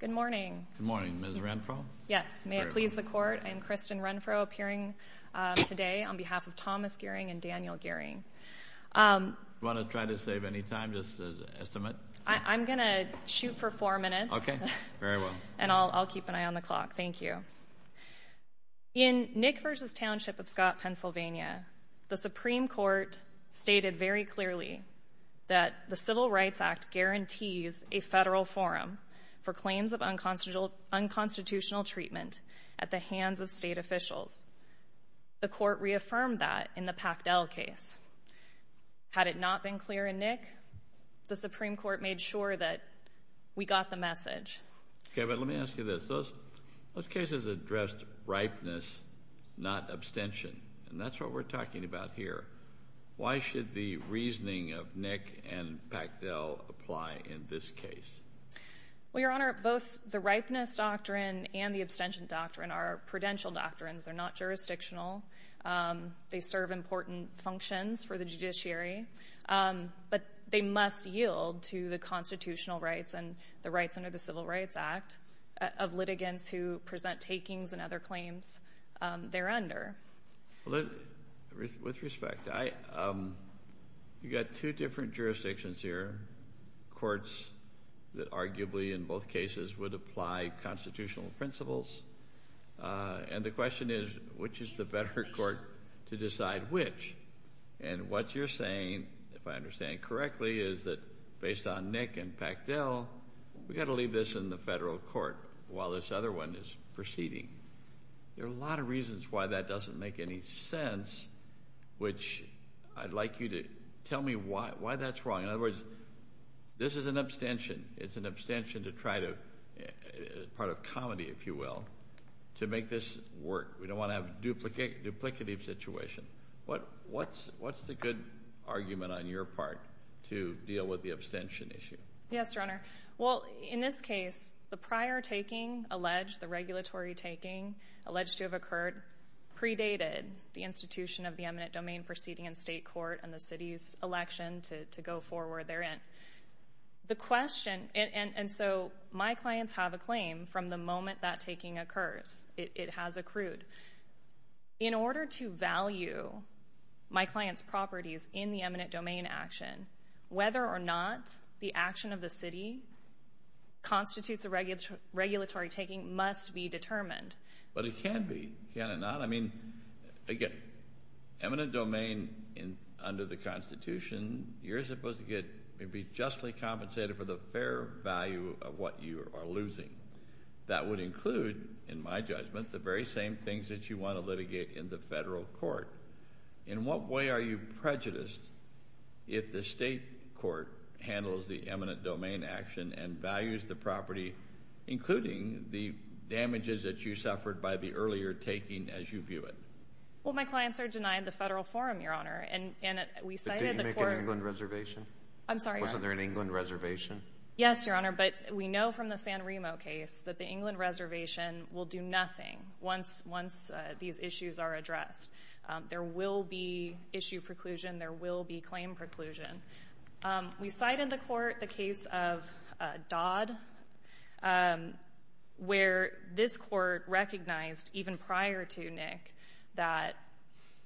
Good morning. Good morning, Ms. Renfro. Yes, may it please the court, I'm Kristen Renfro appearing today on behalf of Thomas Gearing and Daniel Gearing. Want to try to save any time, just as an estimate? I'm gonna shoot for four minutes. Okay, very well. And I'll keep an eye on the clock, thank you. In Nick versus Township of Scott, Pennsylvania, the Supreme Court stated very clearly that the Civil Rights Act guarantees a federal forum for claims of unconstitutional treatment at the hands of state officials. The court reaffirmed that in the Pactel case. Had it not been clear in Nick, the Supreme Court made sure that we got the message. Okay, but let me ask you this. Those cases addressed ripeness, not abstention, and that's what we're talking about here. Why should the apply in this case? Well, Your Honor, both the ripeness doctrine and the abstention doctrine are prudential doctrines. They're not jurisdictional. They serve important functions for the judiciary, but they must yield to the constitutional rights and the rights under the Civil Rights Act of litigants who present takings and other claims there under. With respect, I, um, you courts that arguably in both cases would apply constitutional principles. And the question is, which is the better court to decide which? And what you're saying, if I understand correctly, is that based on Nick and Pactel, we've got to leave this in the federal court while this other one is proceeding. There are a lot of reasons why that doesn't make any sense, which I'd like you to tell me why that's wrong. In other words, this is an abstention. It's an abstention to try to part of comedy, if you will, to make this work. We don't want to have duplicate duplicative situation. What? What's what's the good argument on your part to deal with the abstention issue? Yes, Your Honor. Well, in this case, the prior taking alleged the regulatory taking alleged to have occurred predated the institution of the eminent domain proceeding in state court and the city's election to go forward there in the question. And so my clients have a claim from the moment that taking occurs. It has accrued in order to value my client's properties in the eminent domain action, whether or not the action of the city constitutes a regular regulatory taking must be determined. But it can be. Can it not? I mean, again, eminent domain in under the Constitution, you're supposed to get be justly compensated for the fair value of what you are losing. That would include, in my judgment, the very same things that you want to litigate in the federal court. In what way are you prejudiced if the state court handles the eminent domain action and values the property, including the damages that you suffered by the earlier taking as you view it? Well, my clients are denied the federal forum, Your Honor. And we cited the court. Did you make an England reservation? I'm sorry. Wasn't there an England reservation? Yes, Your Honor. But we know from the San Remo case that the England reservation will do nothing once these issues are addressed. There will be issue preclusion. There will be claim preclusion. We cited the court, the case of Dodd, where this court recognized even prior to Nick that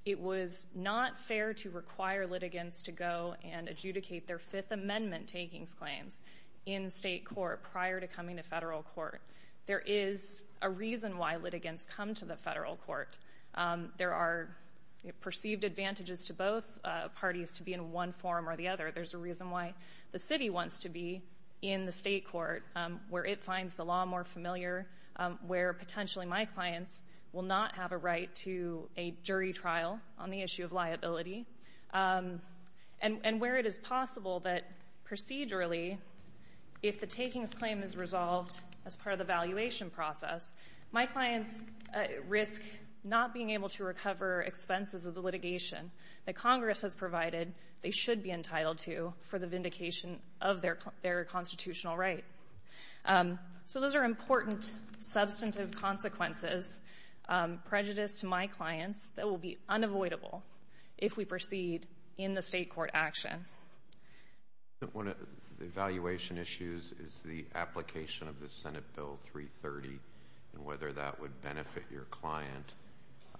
it was not fair to require litigants to go and adjudicate their Fifth Amendment takings claims in state court prior to coming to federal court. There is a reason why litigants come to the federal court. There are perceived advantages to both parties to be in one forum or the other. There's a reason why the city wants to be in the state court, where it finds the law more familiar, where potentially my clients will not have a right to a jury trial on the issue of liability, and where it is possible that procedurally, if the takings claim is resolved as part of the valuation process, my clients risk not being able to recover expenses of the litigation that Congress has provided they should be entitled to for the vindication of their constitutional right. So those are important substantive consequences, prejudice to my clients, that will be unavoidable if we proceed in the state court action. The valuation issues is the application of the Senate Bill 330 and whether that would benefit your client,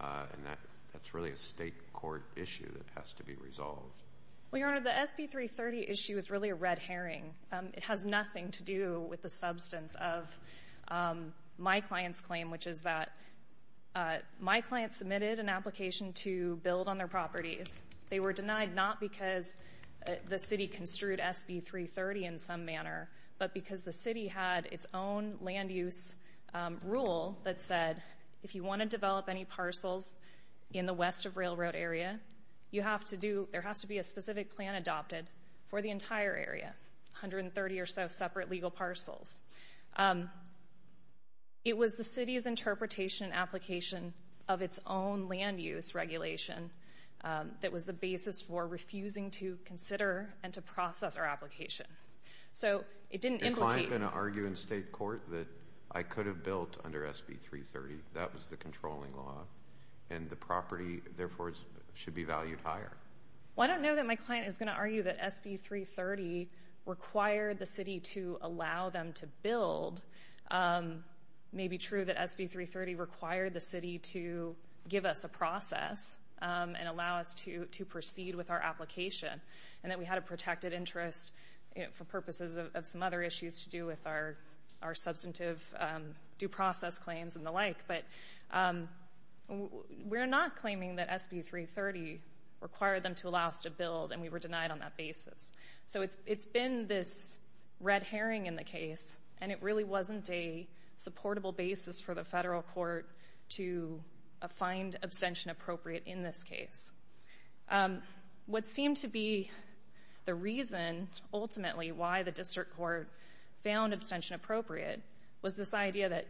and that's really a state court issue that has to be resolved. Well, Your Honor, the SB 330 issue is really a red herring. It has nothing to do with the substance of my client's claim, which is that my client submitted an application to build on their properties. They were denied not because the city construed SB 330 in some manner, but because the city had its own land use rule that said, if you want to develop any parcels in the west of railroad area, you have to do, there has to be a specific plan adopted for the entire area, 130 or so separate legal parcels. It was the city's interpretation and application of its own land use regulation that was the basis for refusing to consider and to process our application. So it didn't implicate... that I could have built under SB 330. That was the controlling law, and the property, therefore, should be valued higher. Well, I don't know that my client is going to argue that SB 330 required the city to allow them to build. It may be true that SB 330 required the city to give us a process and allow us to proceed with our application, and that we had a protected interest for purposes of some other issues to do with our substantive due process claims and the like, but we're not claiming that SB 330 required them to allow us to build, and we were denied on that basis. So it's been this red herring in the case, and it really wasn't a supportable basis for the federal court to find abstention appropriate in this case. What seemed to be the reason, ultimately, why the district court found abstention appropriate was this idea that,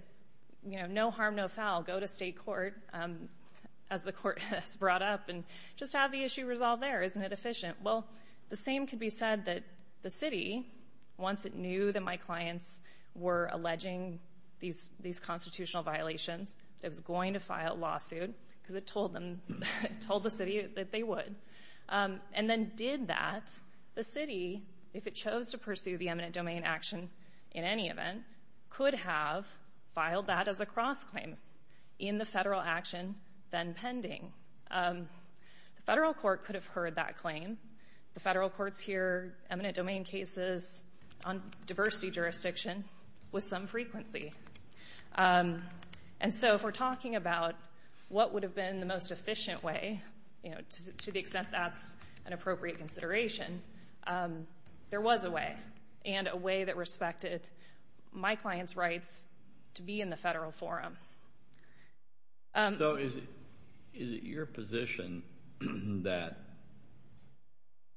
you know, no harm, no foul. Go to state court, as the court has brought up, and just have the issue resolved there. Isn't it efficient? Well, the same could be said that the city, once it knew that my clients were alleging these constitutional violations, that it was going to file a lawsuit, because it told them, told the city that they would, and then did that, the city, if it chose to pursue the eminent domain action in any event, could have filed that as a cross-claim in the federal action then pending. The federal court could have heard that claim. The federal courts hear eminent domain cases on diversity jurisdiction with some And so, if we're talking about what would have been the most efficient way, you know, to the extent that's an appropriate consideration, there was a way, and a way that respected my clients' rights to be in the federal forum. So, is it your position that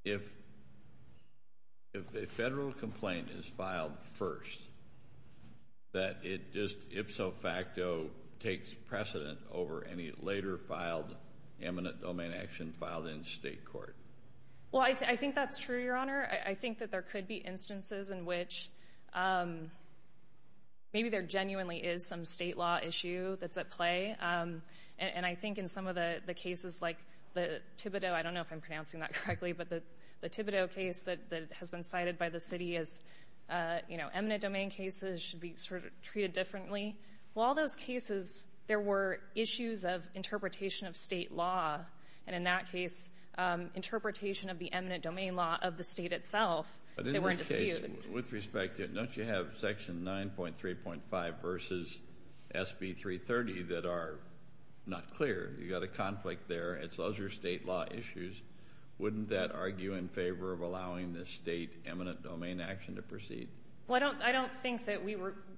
if a federal complaint is filed first, that it just, if so fact, that the Tibiddo takes precedent over any later filed eminent domain action filed in state court? Well, I think that's true, Your Honor. I think that there could be instances in which maybe there genuinely is some state law issue that's at play, and I think in some of the cases like the Tibiddo, I don't know if I'm pronouncing that correctly, but the Tibiddo case that has been cited by the city as, you know, eminent domain cases should be sort of treated differently. Well, all those cases, there were issues of interpretation of state law, and in that case, interpretation of the eminent domain law of the state itself that were in dispute. With respect to it, don't you have section 9.3.5 versus SB 330 that are not clear? You've got a conflict there, and so those are state law issues. Wouldn't that argue in favor of allowing this state eminent domain action to proceed? Well, I don't think that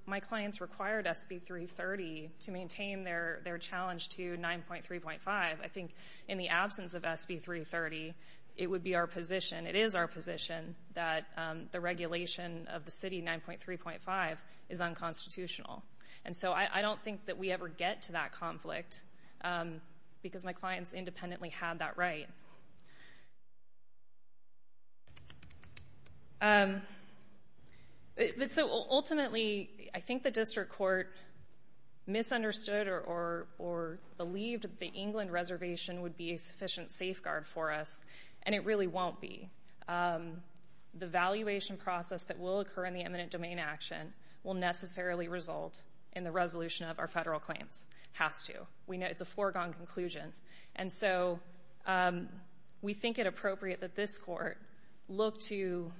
my clients required SB 330 to maintain their challenge to 9.3.5. I think in the absence of SB 330, it would be our position, it is our position, that the regulation of the city 9.3.5 is unconstitutional, and so I don't think that we ever get to that conflict because my clients independently had that right. But so ultimately, I think the district court misunderstood or believed that the England reservation would be a sufficient safeguard for us, and it really won't be. The valuation process that will occur in the eminent domain action will necessarily result in the resolution of our federal claims. Has to. We know it's a foregone conclusion, and so we think it appropriate that this court look to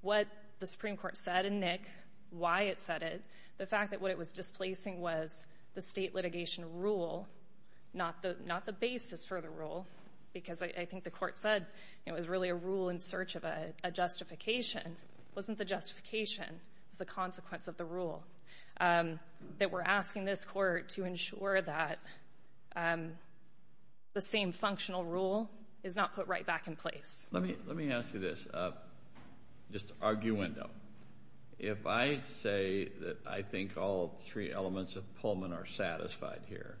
what the Supreme Court said in Nick, why it said it. The fact that what it was displacing was the state litigation rule, not the not the basis for the rule, because I think the court said it was really a rule in search of a justification. Wasn't the justification. It's the consequence of rule. Um, that we're asking this court to ensure that, um, the same functional rule is not put right back in place. Let me let me ask you this. Uh, just argue window. If I say that I think all three elements of Pullman are satisfied here,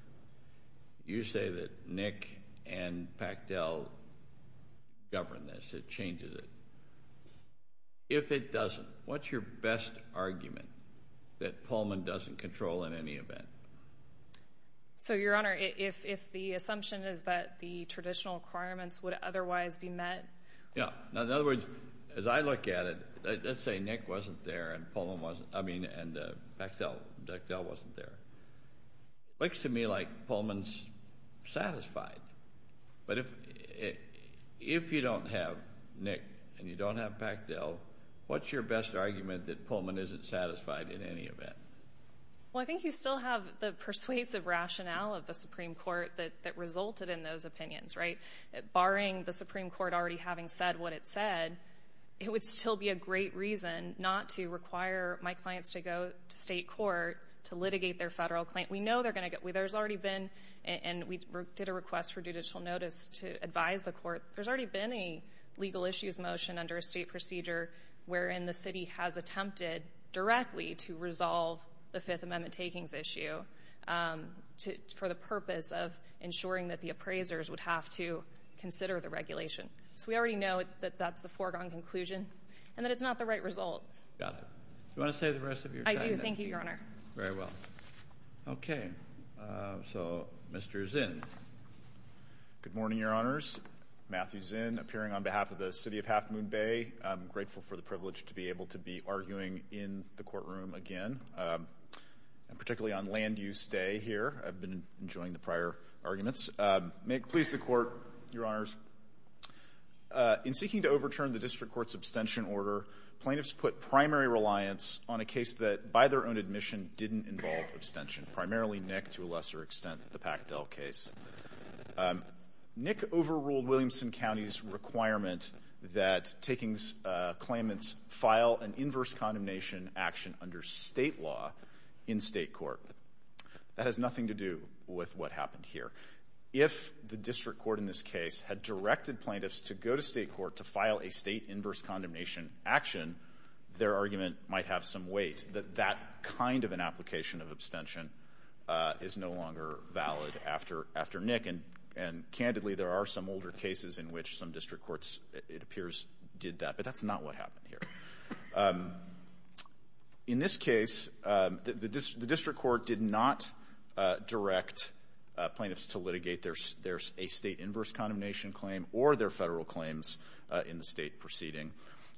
you say that Nick and Pactel govern this. It changes it. If it doesn't, what's your best argument that Pullman doesn't control in any event? So, Your Honor, if the assumption is that the traditional requirements would otherwise be met. Yeah. In other words, as I look at it, let's say Nick wasn't there and Pullman wasn't. I mean, and Pactel wasn't there. Looks to me like Pullman's satisfied. But if if you don't have Nick and you don't have Pactel, what's your best argument that Pullman isn't satisfied in any event? Well, I think you still have the persuasive rationale of the Supreme Court that that resulted in those opinions, right? Barring the Supreme Court already having said what it said, it would still be a great reason not to require my clients to go to state court to litigate their federal claim. We know they're gonna get where there's already been, and we did a request for judicial notice to advise the court. There's already been a legal issues motion under a state procedure wherein the city has attempted directly to resolve the Fifth Amendment takings issue, um, for the purpose of ensuring that the appraisers would have to consider the regulation. So we already know that that's the foregone conclusion and that it's not the right result. Got it. You want to say the rest of you? I do. Thank you, Your Honor. Very well. Okay, so Mr Zinn. Good morning, Your Honors. Matthew Zinn, appearing on behalf of the City of Half Moon Bay. I'm grateful for the privilege to be able to be arguing in the courtroom again, particularly on land use day here. I've been enjoying the prior arguments. May it please the Court, Your Honors. In seeking to overturn the District Court's abstention order, plaintiffs put primary reliance on a case that, by their own admission, didn't involve abstention, primarily Nick to a case. Nick overruled Williamson County's requirement that takings claimants file an inverse condemnation action under State law in State court. That has nothing to do with what happened here. If the District Court in this case had directed plaintiffs to go to State court to file a State inverse condemnation action, their argument might have some weight that that kind of an application of abstention is no longer valid after Nick. And, candidly, there are some older cases in which some District Courts, it appears, did that. But that's not what happened here. In this case, the District Court did not direct plaintiffs to litigate their State inverse condemnation claim or their Federal claims in the State proceeding.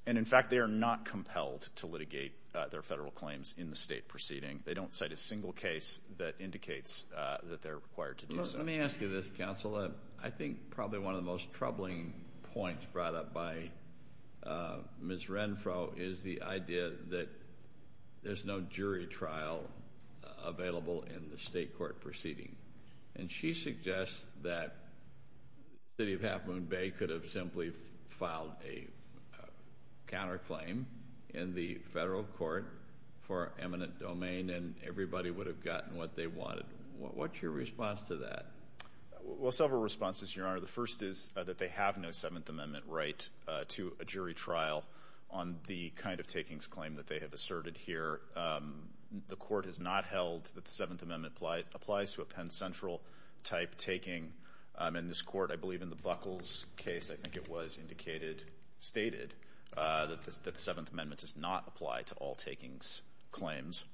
And, in fact, they are not compelled to litigate their Federal claims in the State proceeding. They don't cite a single case that indicates that they're required to do so. Let me ask you this, Counsel. I think probably one of the most troubling points brought up by Ms. Renfro is the idea that there's no jury trial available in the State court proceeding. And she suggests that the City of Half Moon Bay could have simply filed a counterclaim in the for eminent domain and everybody would have gotten what they wanted. What's your response to that? Well, several responses, Your Honor. The first is that they have no Seventh Amendment right to a jury trial on the kind of takings claim that they have asserted here. The Court has not held that the Seventh Amendment applies to a Penn Central type taking. And this Court, I believe in the Buckles case, I think it was indicated, stated, that the Seventh Amendment does not apply to all takings claims.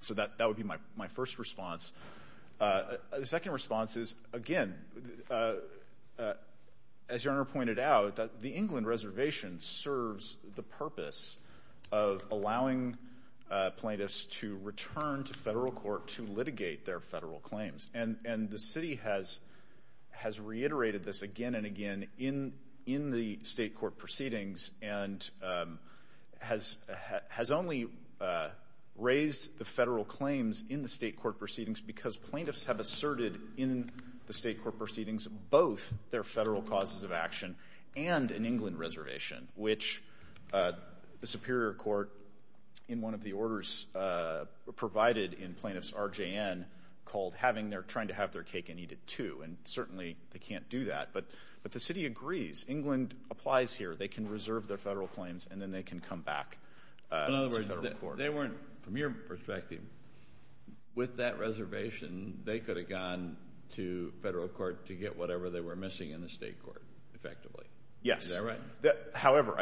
So that would be my first response. The second response is, again, as Your Honor pointed out, that the England Reservation serves the purpose of allowing plaintiffs to return to Federal court to litigate their Federal claims. And the City has reiterated this again and again in the State court proceedings and has only raised the Federal claims in the State court proceedings because plaintiffs have asserted in the State court proceedings both their Federal causes of action and an England Reservation, which the Superior Court, in one of the orders provided in plaintiff's RJN, called having their trying to have their cake and eat it, too. And certainly, they can't do that. But the City agrees. England applies here. They can reserve their Federal claims and then they can come back to Federal court. In other words, they weren't, from your perspective, with that reservation, they could have gone to Federal court to get whatever they were missing in the State court, effectively. Is that right? Yes. However,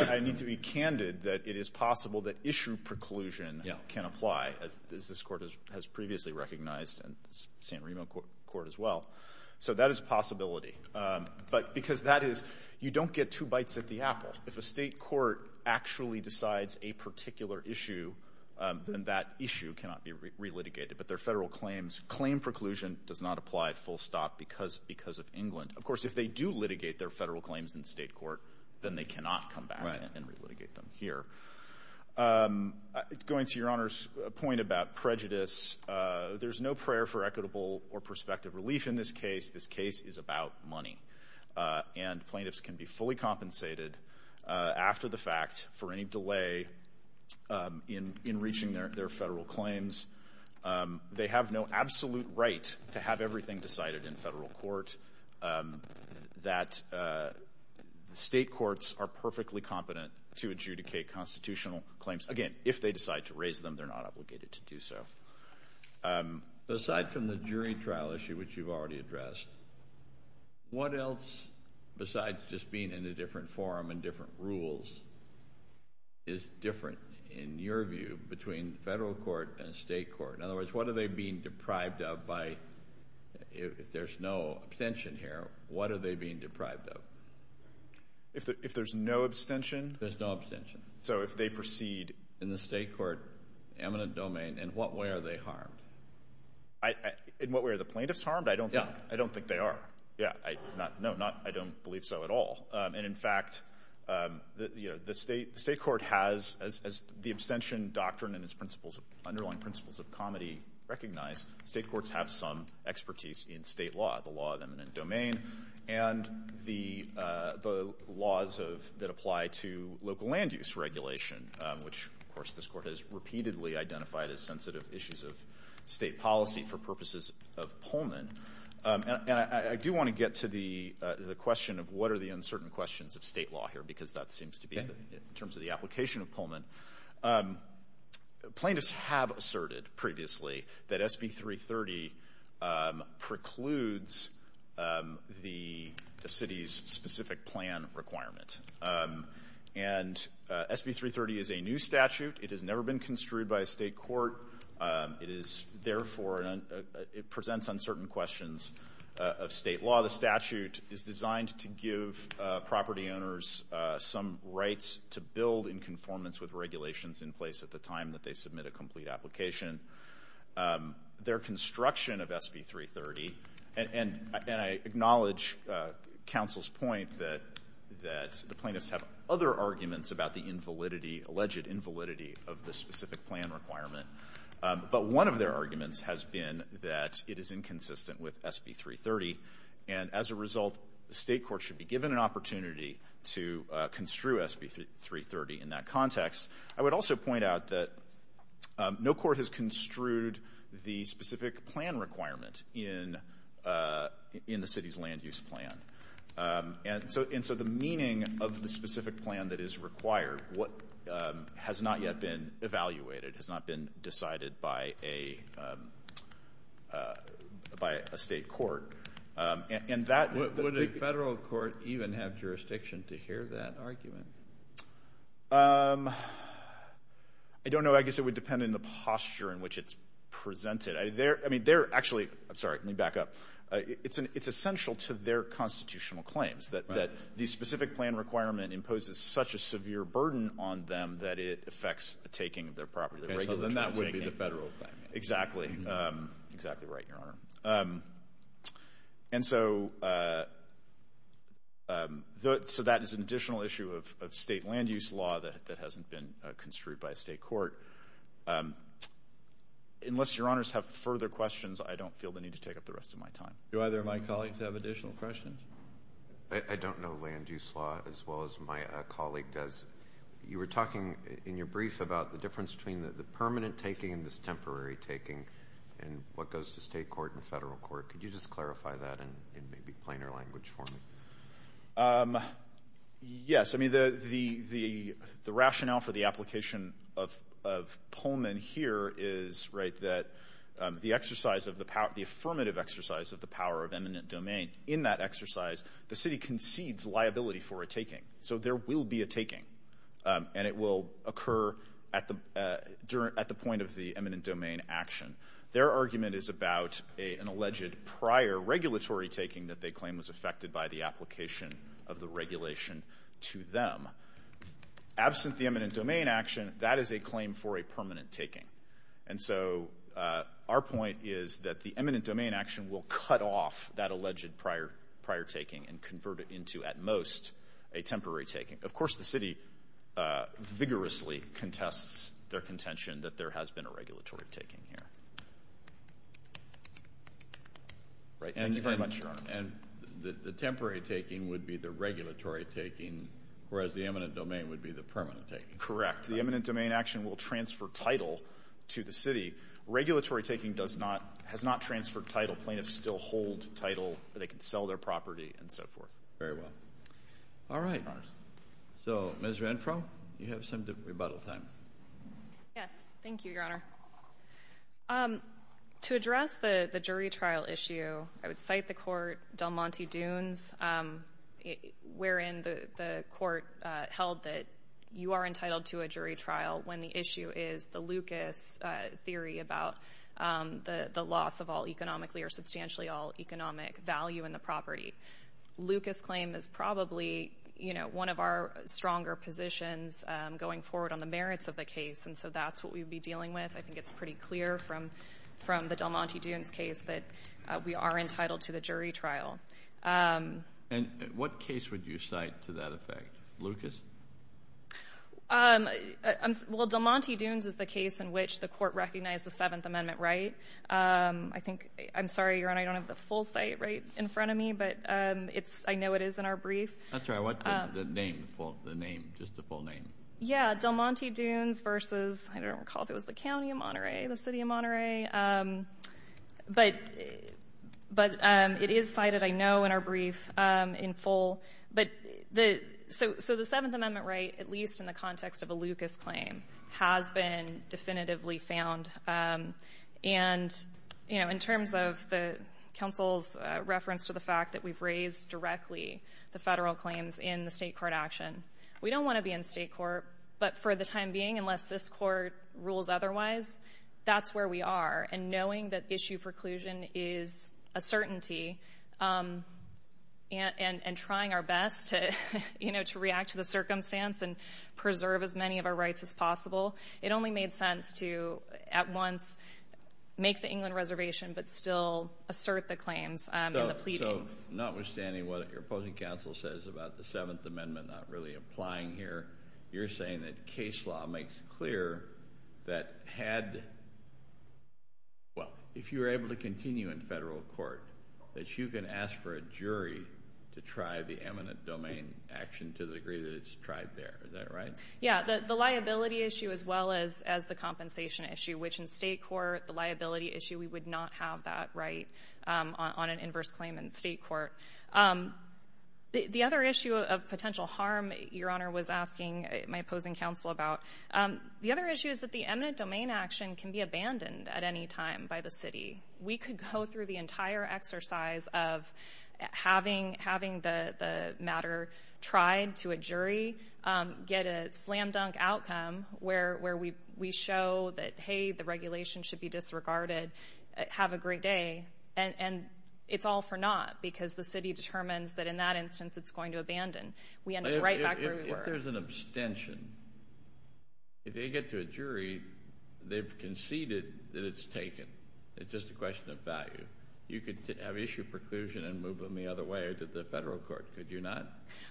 I need to be candid that it is possible that issue preclusion can apply, as this Court has previously recognized and San Remo Court as well. So that is a possibility. But because that is, you don't get two bites at the apple. If a State court actually decides a particular issue, then that issue cannot be relitigated. But their Federal claims, claim preclusion does not apply full stop because of England. Of course, if they do litigate their Federal claims in State court, then they cannot come back and relitigate them here. Going to Your Honor's point about prejudice, there's no prayer for equitable or prospective relief in this case. This case is about money. And plaintiffs can be fully compensated after the fact for any delay in reaching their Federal claims. They have no absolute right to have everything decided in Federal court. Um, that, uh, State courts are perfectly competent to adjudicate constitutional claims. Again, if they decide to raise them, they're not obligated to do so. Um, aside from the jury trial issue, which you've already addressed, what else, besides just being in a different forum and different rules, is different in your view between Federal court and State court? In If there's no abstention here, what are they being deprived of? If there's no abstention, there's no abstention. So if they proceed in the State court eminent domain, in what way are they harmed? In what way are the plaintiffs harmed? I don't think. I don't think they are. Yeah, no, I don't believe so at all. And in fact, um, you know, the State court has, as the abstention doctrine and its principles of underlying principles of comedy recognize, State courts have some expertise in State law, the law of eminent domain and the laws of that apply to local land use regulation, which, of course, this court has repeatedly identified as sensitive issues of State policy for purposes of Pullman. And I do want to get to the question of what are the uncertain questions of State law here, because that seems to be in terms of the application of Pullman. Plaintiffs have asserted previously that SB 330 precludes the city's specific plan requirement. And SB 330 is a new statute. It has never been construed by a State court. It is, therefore, it presents uncertain questions of State law. The plaintiffs have, of course, some rights to build in conformance with regulations in place at the time that they submit a complete application. Their construction of SB 330, and I acknowledge counsel's point that the plaintiffs have other arguments about the invalidity, alleged invalidity of the specific plan requirement. But one of their arguments has been that it is inconsistent with SB 330. And as a result, the State court should be given an opportunity to construe SB 330 in that context. I would also point out that no court has construed the specific plan requirement in the city's land use plan. And so the meaning of the specific plan that is required has not yet been evaluated, has not been decided by a State court. And that the question is, should a Federal court even have jurisdiction to hear that argument? I don't know. I guess it would depend on the posture in which it's presented. I mean, they're actually, I'm sorry, let me back up. It's essential to their constitutional claims that the specific plan requirement imposes such a severe burden on them that it affects the taking of their property, the regular transaction. And so then that would be the Federal claim. Exactly. Exactly right, Your Honor. And so that is an additional issue of State land use law that hasn't been construed by a State court. Unless Your Honors have further questions, I don't feel the need to take up the rest of my time. Do either of my colleagues have additional questions? I don't know land use law as well as my colleague does. You were talking in your brief about the difference between the permanent taking and this temporary taking and what goes to State court and Federal court. Could you just clarify that in maybe plainer language for me? Yes. I mean, the rationale for the application of Pullman here is, right, that the exercise of the power, the affirmative exercise of the power of eminent domain, in that exercise the City concedes liability for a taking. So there will be a taking. And it will occur at the point of the eminent domain action. Their argument is about an alleged prior regulatory taking that they claim was affected by the application of the regulation to them. Absent the eminent domain action, that is a claim for a permanent taking. And so our point is that the eminent domain action will cut off that alleged prior taking and convert it into at most a temporary taking. Of course, the City vigorously contests their contention that there has been a regulatory taking here. And the temporary taking would be the regulatory taking, whereas the eminent domain would be the permanent taking. Correct. The eminent domain action will transfer title to the City. Regulatory taking has not transferred title. Plaintiffs still hold title. They can sell their property and so forth. Very well. All right. So, Ms. Renfro, you have some rebuttal time. Yes. Thank you, Your Honor. To address the jury trial issue, I would cite the court Del Monte Dunes, wherein the court held that you are entitled to a jury trial when the issue is the Lucas theory about the loss of all economically or substantially all economic value in the property. Lucas claim is probably, you know, one of our stronger positions going forward on the merits of the case. And so that's what we'd be dealing with. I think it's pretty clear from the Del Monte Dunes case that we are entitled to the jury trial. And what case would you cite to that effect? Lucas? Well, Del Monte Dunes is the case in which the court recognized the Seventh Amendment right. I think, I'm sorry, Your Honor, I don't have the full cite right in front of me, but I know it is in our brief. That's all right. What's the full name? Yeah. Del Monte Dunes versus, I don't recall if it was the County of Monterey, the City of Monterey. But it is cited, I know, in our brief in full. So the Seventh Amendment right, at least in the context of a Lucas claim, has been definitively found. And, you know, in terms of the counsel's reference to the fact that we've raised directly the federal claims in the state court action, we don't want to be in state court. But for the time being, unless this court rules otherwise, that's where we are. And knowing that issue preclusion is a certainty, and trying our best to, you know, to react to the circumstance and preserve as many of our rights as possible, it only made sense to, at once, make the England reservation, but still assert the claims and the pleadings. So, notwithstanding what your opposing counsel says about the Seventh Amendment not really applying here, you're saying that case law makes clear that had, well, if you were able to continue in federal court, that you can ask for a jury to try the eminent domain action to the degree that it's tried there. Is that right? Yeah. The liability issue as well as the compensation issue, which in state court, the liability issue, we would not have that right on an inverse claim in state court. The other issue of potential harm your Honor was asking my opposing counsel about, the other issue is that the eminent domain action can be abandoned at any time by the city. We could go through the entire exercise of having the matter tried to a jury, get a slam dunk outcome where we show that, hey, the regulation should be disregarded, have a great day, and it's all for naught because the city determines that in that instance it's going to abandon. We end up right back where we were. If there's an abstention, if they get to a jury, they've conceded that it's taken. It's just a question of value. You could have issue preclusion and move them the other way or to the federal court, could you not?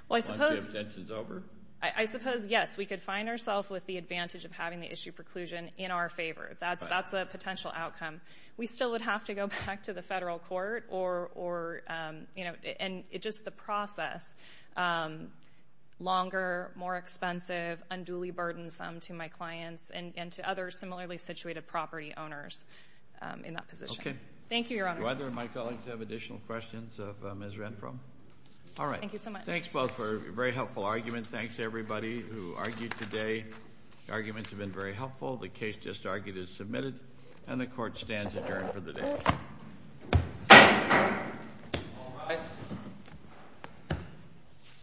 Well, I suppose. Once the abstention's over? I suppose, yes. We could find ourselves with the advantage of having the issue preclusion in our favor. That's a potential outcome. We still would have to go back to the federal court. It's just the process. Longer, more expensive, unduly burdensome to my clients and to other similarly situated property owners in that position. Thank you, Your Honors. Do either of my colleagues have additional questions of Ms. Renfro? All right. Thank you so much. Thanks, both, for a very helpful argument. Thanks to everybody who argued today. The arguments have been very helpful. The case just argued is submitted, and the Court stands adjourned for the day. Thank you. Thank you.